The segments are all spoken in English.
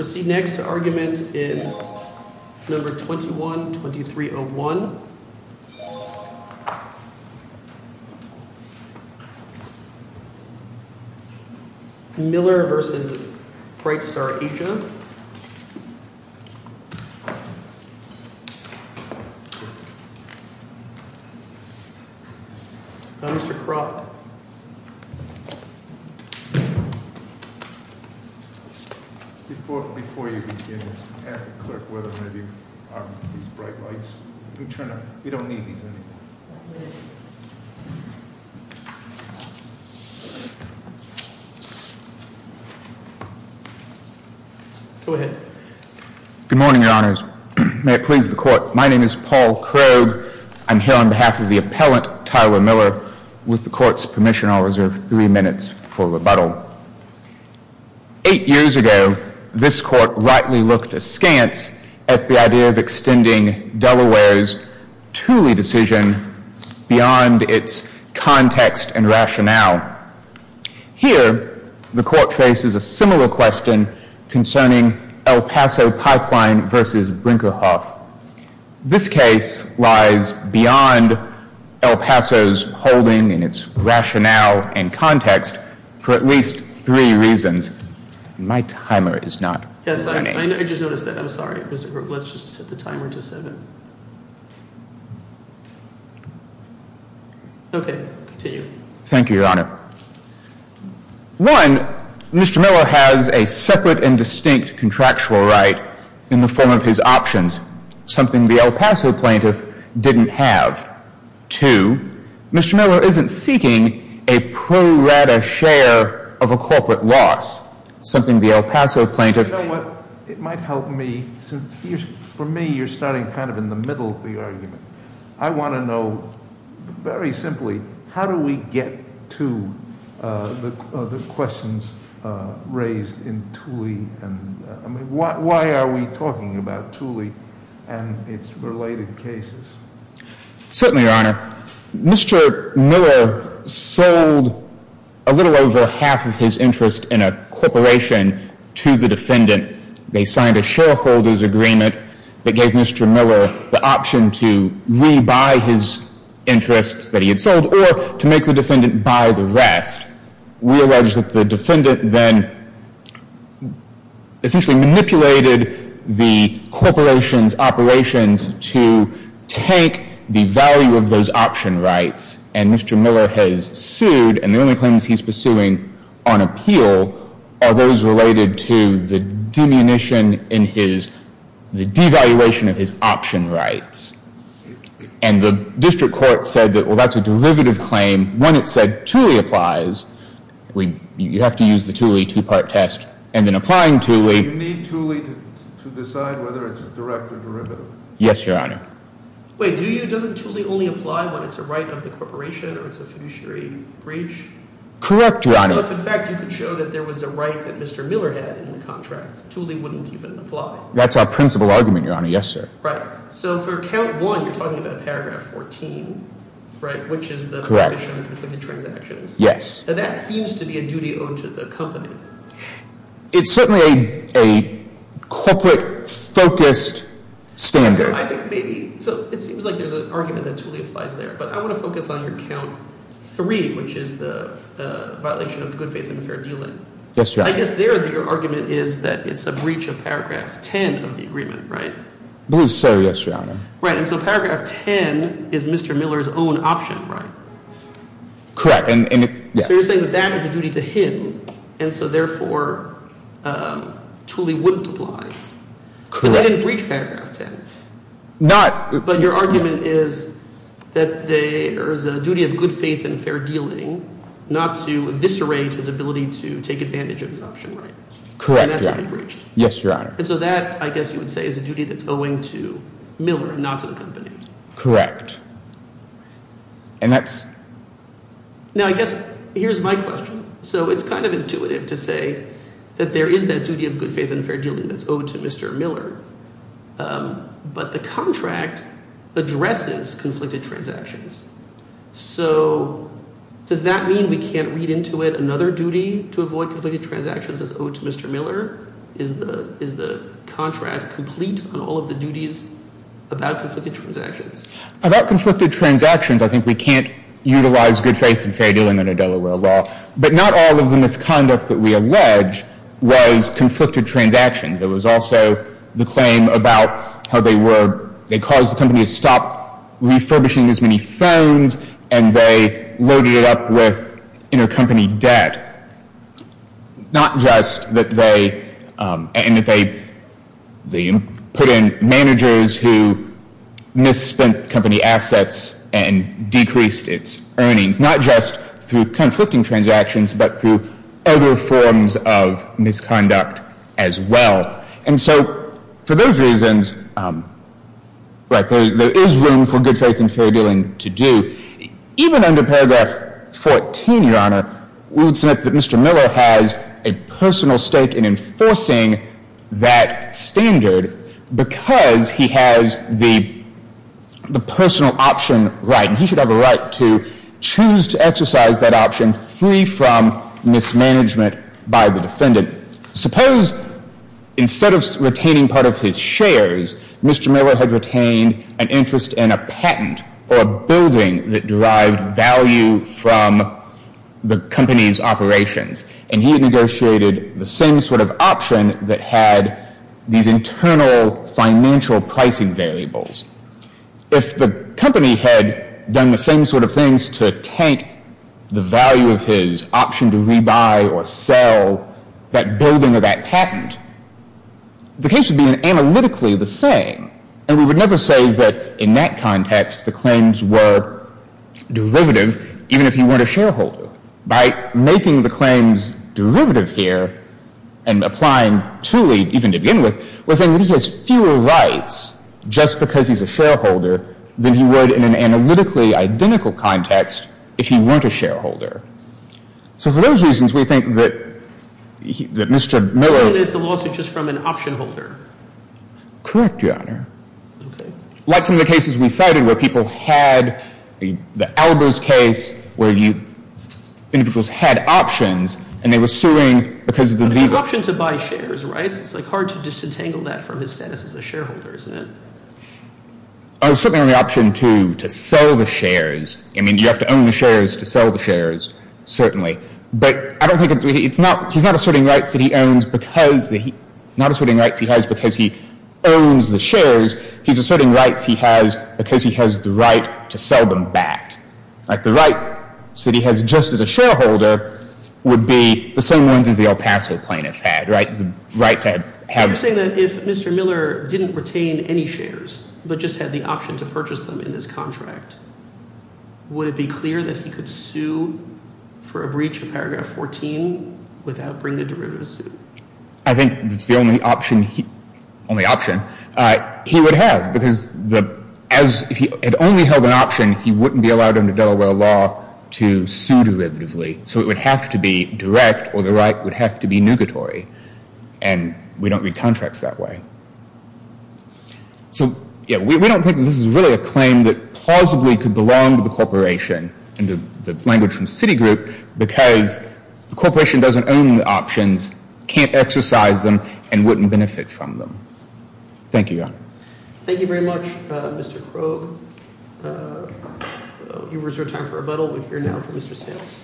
Proceed next to argument in Number 21-2301 Miller v. Brightstar Asia Mr. Kroc Good morning, Your Honors. May it please the Court. My name is Paul Krogh. I'm here on behalf of the appellant, Tyler Miller. With the Court's permission, I'll reserve three minutes for questions. Eight years ago, this Court rightly looked askance at the idea of extending Delaware's Thule decision beyond its context and rationale. Here, the Court faces a similar question concerning El Paso Pipeline v. Brinkerhoff. This case lies beyond El Paso's holding in its rationale and context for at least three reasons. One, Mr. Miller has a separate and distinct contractual right in the form of his options, something the El Paso plaintiff didn't have. Two, Mr. Miller isn't seeking a pro rata share of a corporate loss, something the El Paso plaintiff- Certainly, Your Honor. Mr. Miller sold a little over half of his interest in a corporation to the defendant. They signed a shareholders' agreement that gave Mr. Miller the option to rebuy his interests that he had sold or to make the defendant buy the rest. We allege that the defendant then essentially manipulated the corporation's operations to take the value of those option rights. And Mr. Miller has sued, and the only claims he's pursuing on appeal are those related to the demunition in his- the devaluation of his option rights. And the district court said that, well, that's a derivative claim. When it said Thule applies, you have to use the Thule two-part test, and then applying Thule- You need Thule to decide whether it's a direct or derivative. Yes, Your Honor. Wait, do you- doesn't Thule only apply when it's a right of the corporation or it's a fiduciary breach? Correct, Your Honor. So if, in fact, you could show that there was a right that Mr. Miller had in the contract, Thule wouldn't even apply. That's our principal argument, Your Honor. Yes, sir. Right. So for count one, you're talking about paragraph 14, right, which is the- Correct. Conflicted transactions. Yes. Now, that seems to be a duty owed to the company. It's certainly a corporate-focused standard. I think maybe- so it seems like there's an argument that Thule applies there, but I want to focus on your count three, which is the violation of good faith and fair dealing. Yes, Your Honor. I guess there your argument is that it's a breach of paragraph 10 of the agreement, right? I believe so, yes, Your Honor. Right, and so paragraph 10 is Mr. Miller's own option, right? Correct, and- So you're saying that that is a duty to him, and so, therefore, Thule wouldn't apply. Correct. But they didn't breach paragraph 10. Not- But your argument is that there's a duty of good faith and fair dealing not to eviscerate his ability to take advantage of his option, right? And that's why he breached. Yes, Your Honor. And so that, I guess you would say, is a duty that's owing to Miller and not to the company. Correct, and that's- Now, I guess here's my question. So it's kind of intuitive to say that there is that duty of good faith and fair dealing that's owed to Mr. Miller, but the contract addresses conflicted transactions. So does that mean we can't read into it another duty to avoid conflicted transactions that's owed to Mr. Miller? Is the contract complete on all of the duties about conflicted transactions? About conflicted transactions, I think we can't utilize good faith and fair dealing under Delaware law. But not all of the misconduct that we allege was conflicted transactions. There was also the claim about how they caused the company to stop refurbishing as many phones and they loaded it up with intercompany debt. Not just that they put in managers who misspent company assets and decreased its earnings. Not just through conflicting transactions, but through other forms of misconduct as well. And so, for those reasons, there is room for good faith and fair dealing to do. Even under paragraph 14, Your Honor, we would submit that Mr. Miller has a personal stake in enforcing that standard because he has the personal option right. And he should have a right to choose to exercise that option free from mismanagement by the defendant. Suppose instead of retaining part of his shares, Mr. Miller had retained an interest in a patent or a building that derived value from the company's operations. And he had negotiated the same sort of option that had these internal financial pricing variables. If the company had done the same sort of things to tank the value of his option to rebuy or sell that building or that patent, the case would be analytically the same. And we would never say that in that context the claims were derivative, even if he weren't a shareholder. By making the claims derivative here and applying truly even to begin with, we're saying that he has fewer rights just because he's a shareholder than he would in an analytically identical context if he weren't a shareholder. So for those reasons, we think that Mr. Miller — And it's a lawsuit just from an option holder? Correct, Your Honor. Okay. Like some of the cases we cited where people had — the Albers case where individuals had options and they were suing because of the legal — It's an option to buy shares, right? It's hard to disentangle that from his status as a shareholder, isn't it? It's certainly not an option to sell the shares. I mean you have to own the shares to sell the shares, certainly. But I don't think it's — he's not asserting rights that he owns because — not asserting rights he has because he owns the shares. He's asserting rights he has because he has the right to sell them back. Like the right that he has just as a shareholder would be the same ones as the El Paso plaintiff had, right? The right to have — You're saying that if Mr. Miller didn't retain any shares but just had the option to purchase them in this contract, would it be clear that he could sue for a breach of paragraph 14 without bringing a derivative suit? I think that's the only option he — only option he would have. Because if he had only held an option, he wouldn't be allowed under Delaware law to sue derivatively. So it would have to be direct or the right would have to be nugatory. And we don't read contracts that way. So, yeah, we don't think that this is really a claim that plausibly could belong to the corporation, in the language from Citigroup, because the corporation doesn't own the options, can't exercise them, and wouldn't benefit from them. Thank you, Your Honor. Thank you very much, Mr. Krogh. You reserve time for rebuttal. We're here now for Mr. Sayles.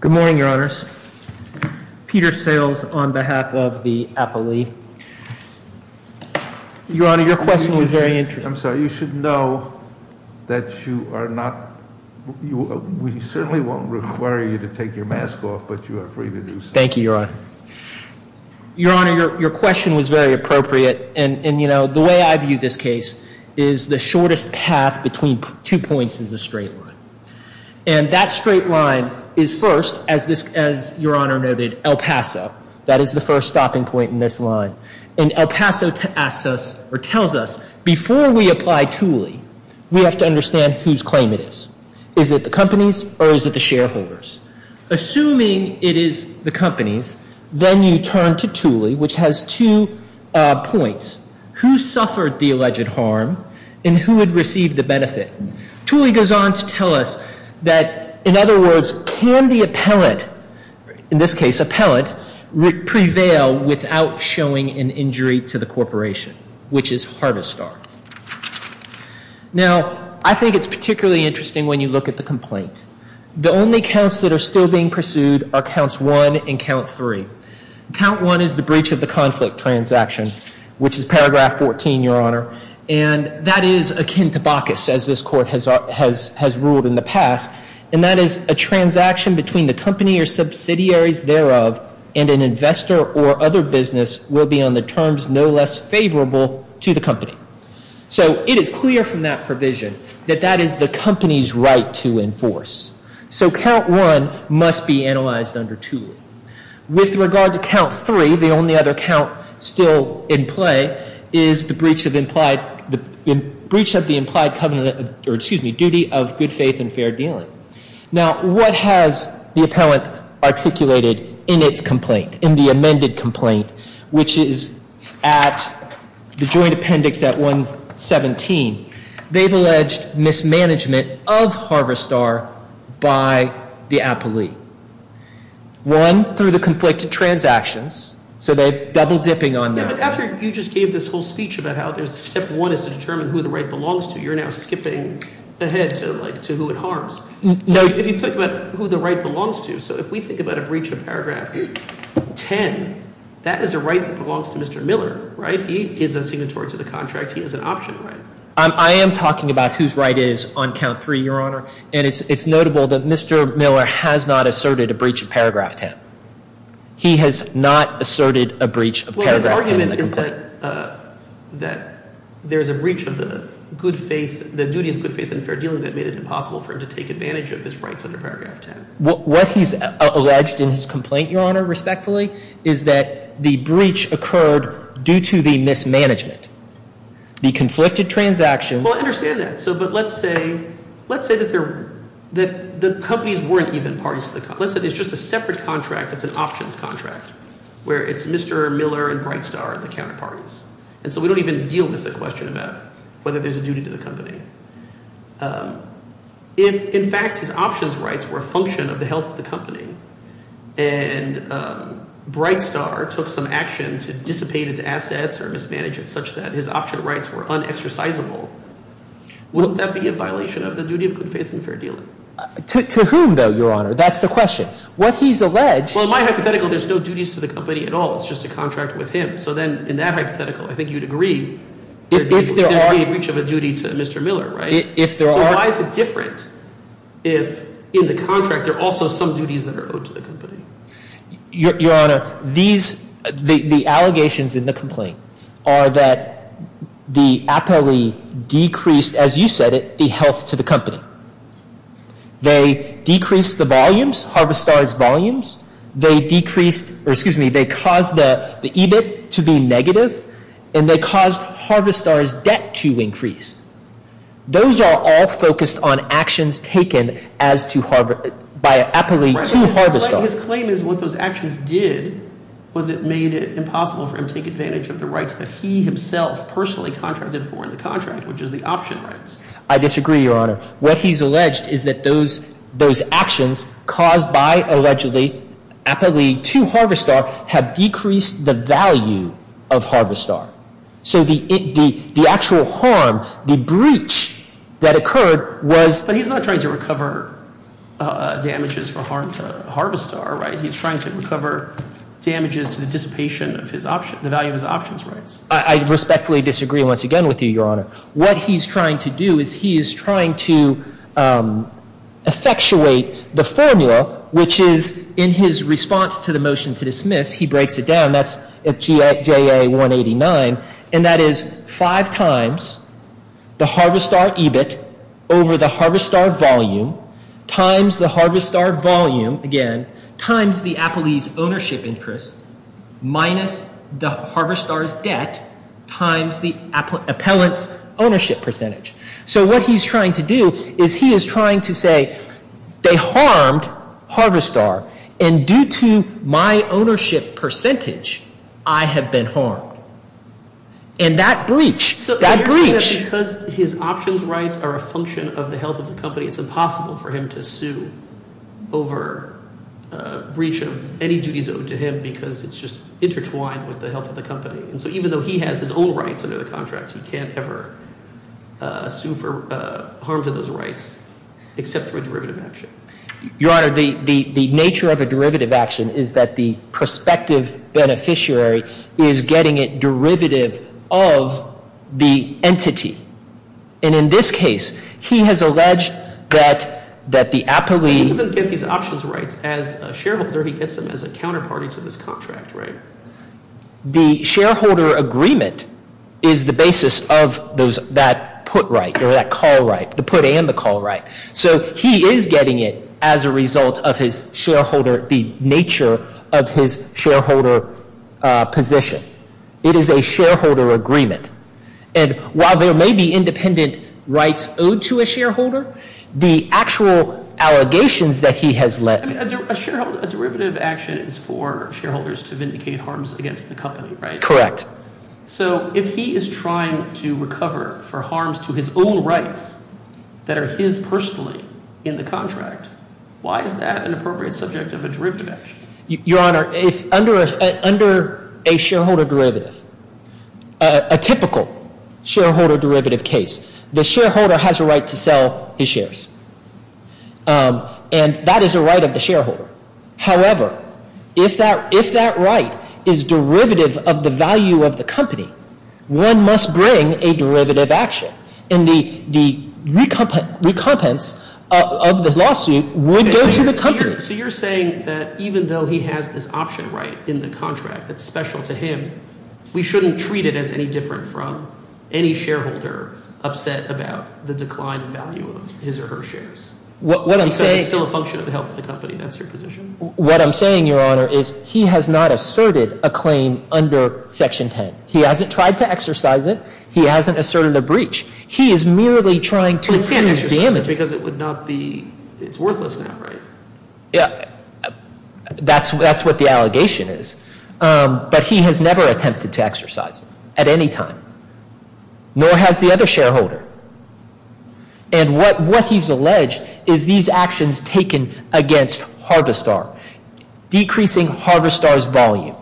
Good morning, Your Honors. Peter Sayles on behalf of the appellee. Your Honor, your question was very interesting. I'm sorry, you should know that you are not — we certainly won't require you to take your mask off, but you are free to do so. Thank you, Your Honor. Your Honor, your question was very appropriate. And, you know, the way I view this case is the shortest path between two points is a straight line. And that straight line is first, as Your Honor noted, El Paso. That is the first stopping point in this line. And El Paso asks us, or tells us, before we apply Thule, we have to understand whose claim it is. Is it the company's, or is it the shareholder's? Assuming it is the company's, then you turn to Thule, which has two points. Who suffered the alleged harm, and who would receive the benefit? Thule goes on to tell us that, in other words, can the appellant — in this case, appellant — prevail without showing an injury to the corporation, which is Harvestar? Now, I think it's particularly interesting when you look at the complaint. The only counts that are still being pursued are Counts 1 and Count 3. Count 1 is the breach of the conflict transaction, which is Paragraph 14, Your Honor. And that is akin to Bacchus, as this Court has ruled in the past. And that is, a transaction between the company or subsidiaries thereof and an investor or other business will be on the terms no less favorable to the company. So it is clear from that provision that that is the company's right to enforce. So Count 1 must be analyzed under Thule. With regard to Count 3, the only other count still in play is the breach of the implied covenant — or, excuse me, duty of good faith and fair dealing. Now, what has the appellant articulated in its complaint, in the amended complaint, which is at the Joint Appendix at 117? They've alleged mismanagement of Harvestar by the appellee. One, through the conflicted transactions. So they're double-dipping on that. Yeah, but after you just gave this whole speech about how Step 1 is to determine who the right belongs to, you're now skipping ahead to, like, to who it harms. So if you think about who the right belongs to, so if we think about a breach of Paragraph 10, that is a right that belongs to Mr. Miller, right? He is a signatory to the contract. He has an option right. I am talking about whose right it is on Count 3, Your Honor. And it's notable that Mr. Miller has not asserted a breach of Paragraph 10. He has not asserted a breach of Paragraph 10 in the complaint. Well, his argument is that there's a breach of the good faith — the duty of good faith and fair dealing that made it impossible for him to take advantage of his rights under Paragraph 10. What he's alleged in his complaint, Your Honor, respectfully, is that the breach occurred due to the mismanagement. The conflicted transactions — Well, I understand that. But let's say that the companies weren't even parties to the contract. Let's say there's just a separate contract that's an options contract where it's Mr. Miller and Brightstar, the counterparties. And so we don't even deal with the question about whether there's a duty to the company. If, in fact, his options rights were a function of the health of the company and Brightstar took some action to dissipate its assets or mismanage it such that his option rights were unexercisable, wouldn't that be a violation of the duty of good faith and fair dealing? To whom, though, Your Honor? That's the question. What he's alleged — Well, in my hypothetical, there's no duties to the company at all. It's just a contract with him. So then in that hypothetical, I think you'd agree there would be a breach of a duty to Mr. Miller, right? If there are — So why is it different if in the contract there are also some duties that are owed to the company? Your Honor, these — the allegations in the complaint are that the appellee decreased, as you said it, the health to the company. They decreased the volumes, Harvestar's volumes. They decreased — or excuse me, they caused the EBIT to be negative, and they caused Harvestar's debt to increase. Those are all focused on actions taken as to — by an appellee to Harvestar. His claim is what those actions did was it made it impossible for him to take advantage of the rights that he himself personally contracted for in the contract, which is the option rights. I disagree, Your Honor. What he's alleged is that those actions caused by allegedly — appellee to Harvestar have decreased the value of Harvestar. So the actual harm, the breach that occurred was — But he's not trying to recover damages for harm to Harvestar, right? He's trying to recover damages to the dissipation of his — the value of his options rights. I respectfully disagree once again with you, Your Honor. What he's trying to do is he is trying to effectuate the formula, which is in his response to the motion to dismiss, he breaks it down. That's at JA-189, and that is five times the Harvestar EBIT over the Harvestar volume times the Harvestar volume, again, times the appellee's ownership interest minus the Harvestar's debt times the appellant's ownership percentage. So what he's trying to do is he is trying to say they harmed Harvestar. And due to my ownership percentage, I have been harmed. And that breach, that breach — So you're saying that because his options rights are a function of the health of the company, it's impossible for him to sue over a breach of any duties owed to him because it's just intertwined with the health of the company. And so even though he has his own rights under the contract, he can't ever sue for harm to those rights except through a derivative action. Your Honor, the nature of a derivative action is that the prospective beneficiary is getting it derivative of the entity. And in this case, he has alleged that the appellee — He doesn't get these options rights as a shareholder. He gets them as a counterparty to this contract, right? The shareholder agreement is the basis of that put right or that call right, the put and the call right. So he is getting it as a result of his shareholder — the nature of his shareholder position. It is a shareholder agreement. And while there may be independent rights owed to a shareholder, the actual allegations that he has led — A derivative action is for shareholders to vindicate harms against the company, right? Correct. So if he is trying to recover for harms to his own rights that are his personally in the contract, why is that an appropriate subject of a derivative action? Your Honor, under a shareholder derivative, a typical shareholder derivative case, the shareholder has a right to sell his shares. And that is a right of the shareholder. However, if that right is derivative of the value of the company, one must bring a derivative action. And the recompense of the lawsuit would go to the company. So you're saying that even though he has this option right in the contract that's special to him, we shouldn't treat it as any different from any shareholder upset about the decline in value of his or her shares? What I'm saying — What I'm saying, Your Honor, is he has not asserted a claim under Section 10. He hasn't tried to exercise it. He hasn't asserted a breach. He is merely trying to — But he can't exercise it because it would not be — it's worthless now, right? That's what the allegation is. But he has never attempted to exercise it at any time. Nor has the other shareholder. And what he's alleged is these actions taken against Harvistar, decreasing Harvistar's volume,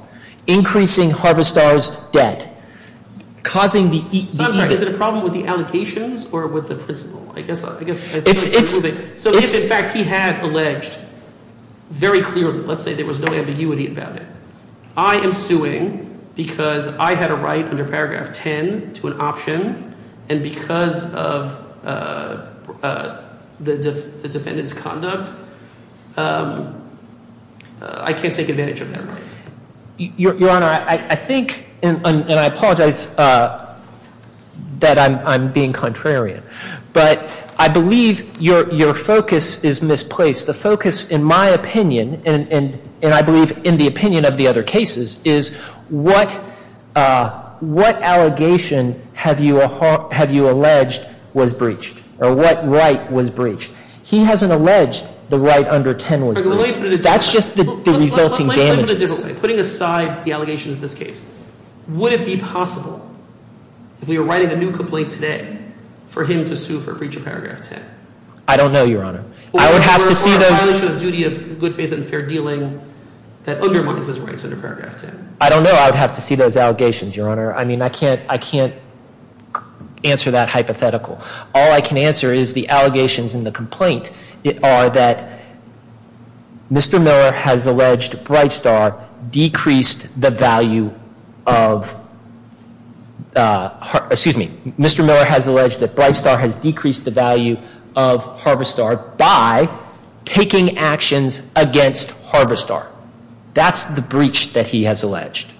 increasing Harvistar's debt, causing the — So I'm sorry. Is it a problem with the allegations or with the principle? I guess I — It's — So if, in fact, he had alleged very clearly, let's say there was no ambiguity about it, I am suing because I had a right under paragraph 10 to an option. And because of the defendant's conduct, I can't take advantage of that right. Your Honor, I think — and I apologize that I'm being contrarian. But I believe your focus is misplaced. The focus, in my opinion, and I believe in the opinion of the other cases, is what allegation have you alleged was breached or what right was breached? He hasn't alleged the right under 10 was breached. That's just the resulting damages. Putting aside the allegations in this case, would it be possible, if we were writing a new complaint today, for him to sue for breach of paragraph 10? I don't know, Your Honor. I would have to see those — Or a violation of duty of good faith and fair dealing that undermines his rights under paragraph 10. I don't know. I would have to see those allegations, Your Honor. I mean, I can't answer that hypothetical. All I can answer is the allegations in the complaint are that Mr. Miller has alleged Brightstar decreased the value of — by taking actions against Harvestar. That's the breach that he has alleged.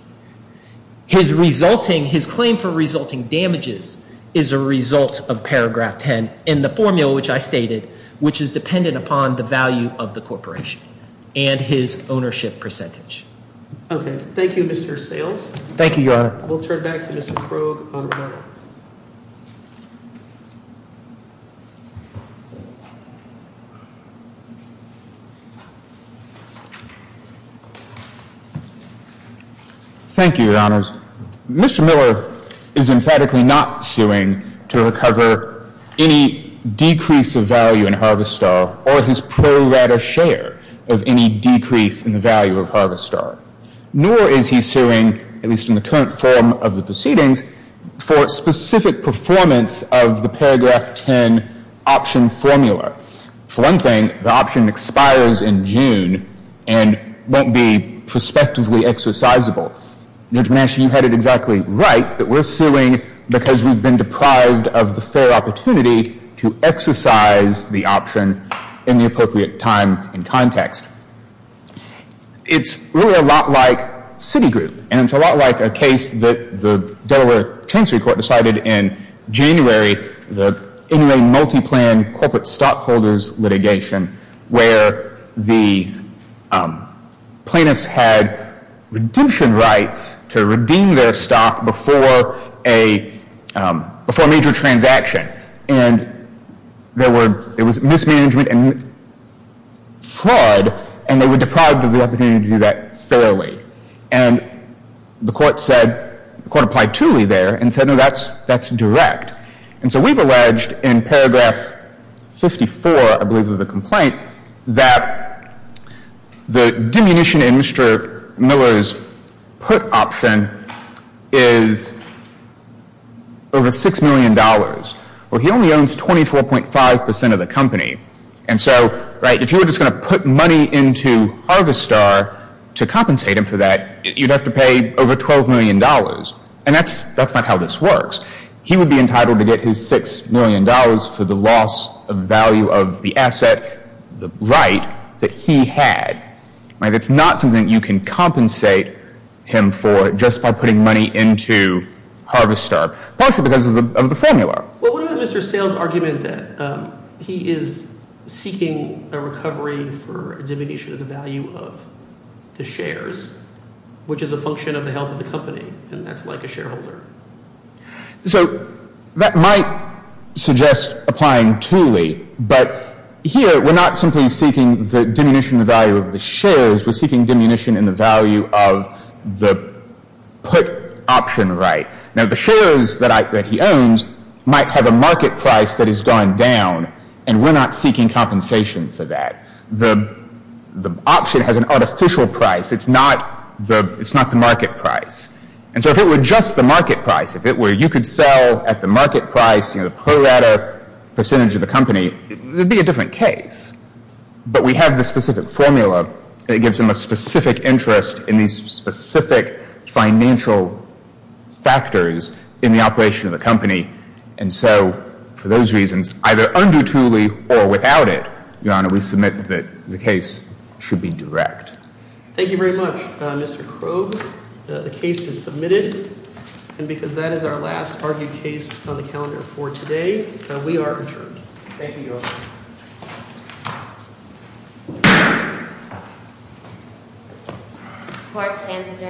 His resulting — his claim for resulting damages is a result of paragraph 10 in the formula, which I stated, which is dependent upon the value of the corporation and his ownership percentage. Okay. Thank you, Mr. Sales. Thank you, Your Honor. We'll turn back to Mr. Krogh on that. Thank you, Your Honors. Mr. Miller is emphatically not suing to recover any decrease of value in Harvestar or his pro rata share of any decrease in the value of Harvestar. Nor is he suing, at least in the current form of the proceedings, for specific performance of the paragraph 10 option formula. For one thing, the option expires in June and won't be prospectively exercisable. Your Honor, you had it exactly right that we're suing because we've been deprived of the fair opportunity to exercise the option in the appropriate time and context. It's really a lot like Citigroup. And it's a lot like a case that the Delaware Tensory Court decided in January, the Inouye Multiplan Corporate Stockholders litigation, where the plaintiffs had redemption rights to redeem their stock before a major transaction. And there were, it was mismanagement and fraud, and they were deprived of the opportunity to do that fairly. And the court said, the court applied tooly there and said, no, that's direct. And so we've alleged in paragraph 54, I believe, of the complaint that the diminution in Mr. Miller's put option is over $6 million. Well, he only owns 24.5 percent of the company. And so, right, if you were just going to put money into Harvestar to compensate him for that, you'd have to pay over $12 million. And that's not how this works. He would be entitled to get his $6 million for the loss of value of the asset, the right that he had. It's not something you can compensate him for just by putting money into Harvestar, partially because of the formula. Well, what about Mr. Sales' argument that he is seeking a recovery for a diminution of the value of the shares, which is a function of the health of the company, and that's like a shareholder? So that might suggest applying tooly, but here we're not simply seeking the diminution in the value of the shares. We're seeking diminution in the value of the put option right. Now, the shares that he owns might have a market price that has gone down, and we're not seeking compensation for that. The option has an artificial price. It's not the market price. And so if it were just the market price, if it were you could sell at the market price, you know, the per letter percentage of the company, it would be a different case. But we have the specific formula that gives him a specific interest in these specific financial factors in the operation of the company. And so for those reasons, either undue tooly or without it, Your Honor, we submit that the case should be direct. Thank you very much. Mr. Krogh, the case is submitted, and because that is our last argued case on the calendar for today, we are adjourned. Thank you, Your Honor. Court is adjourned.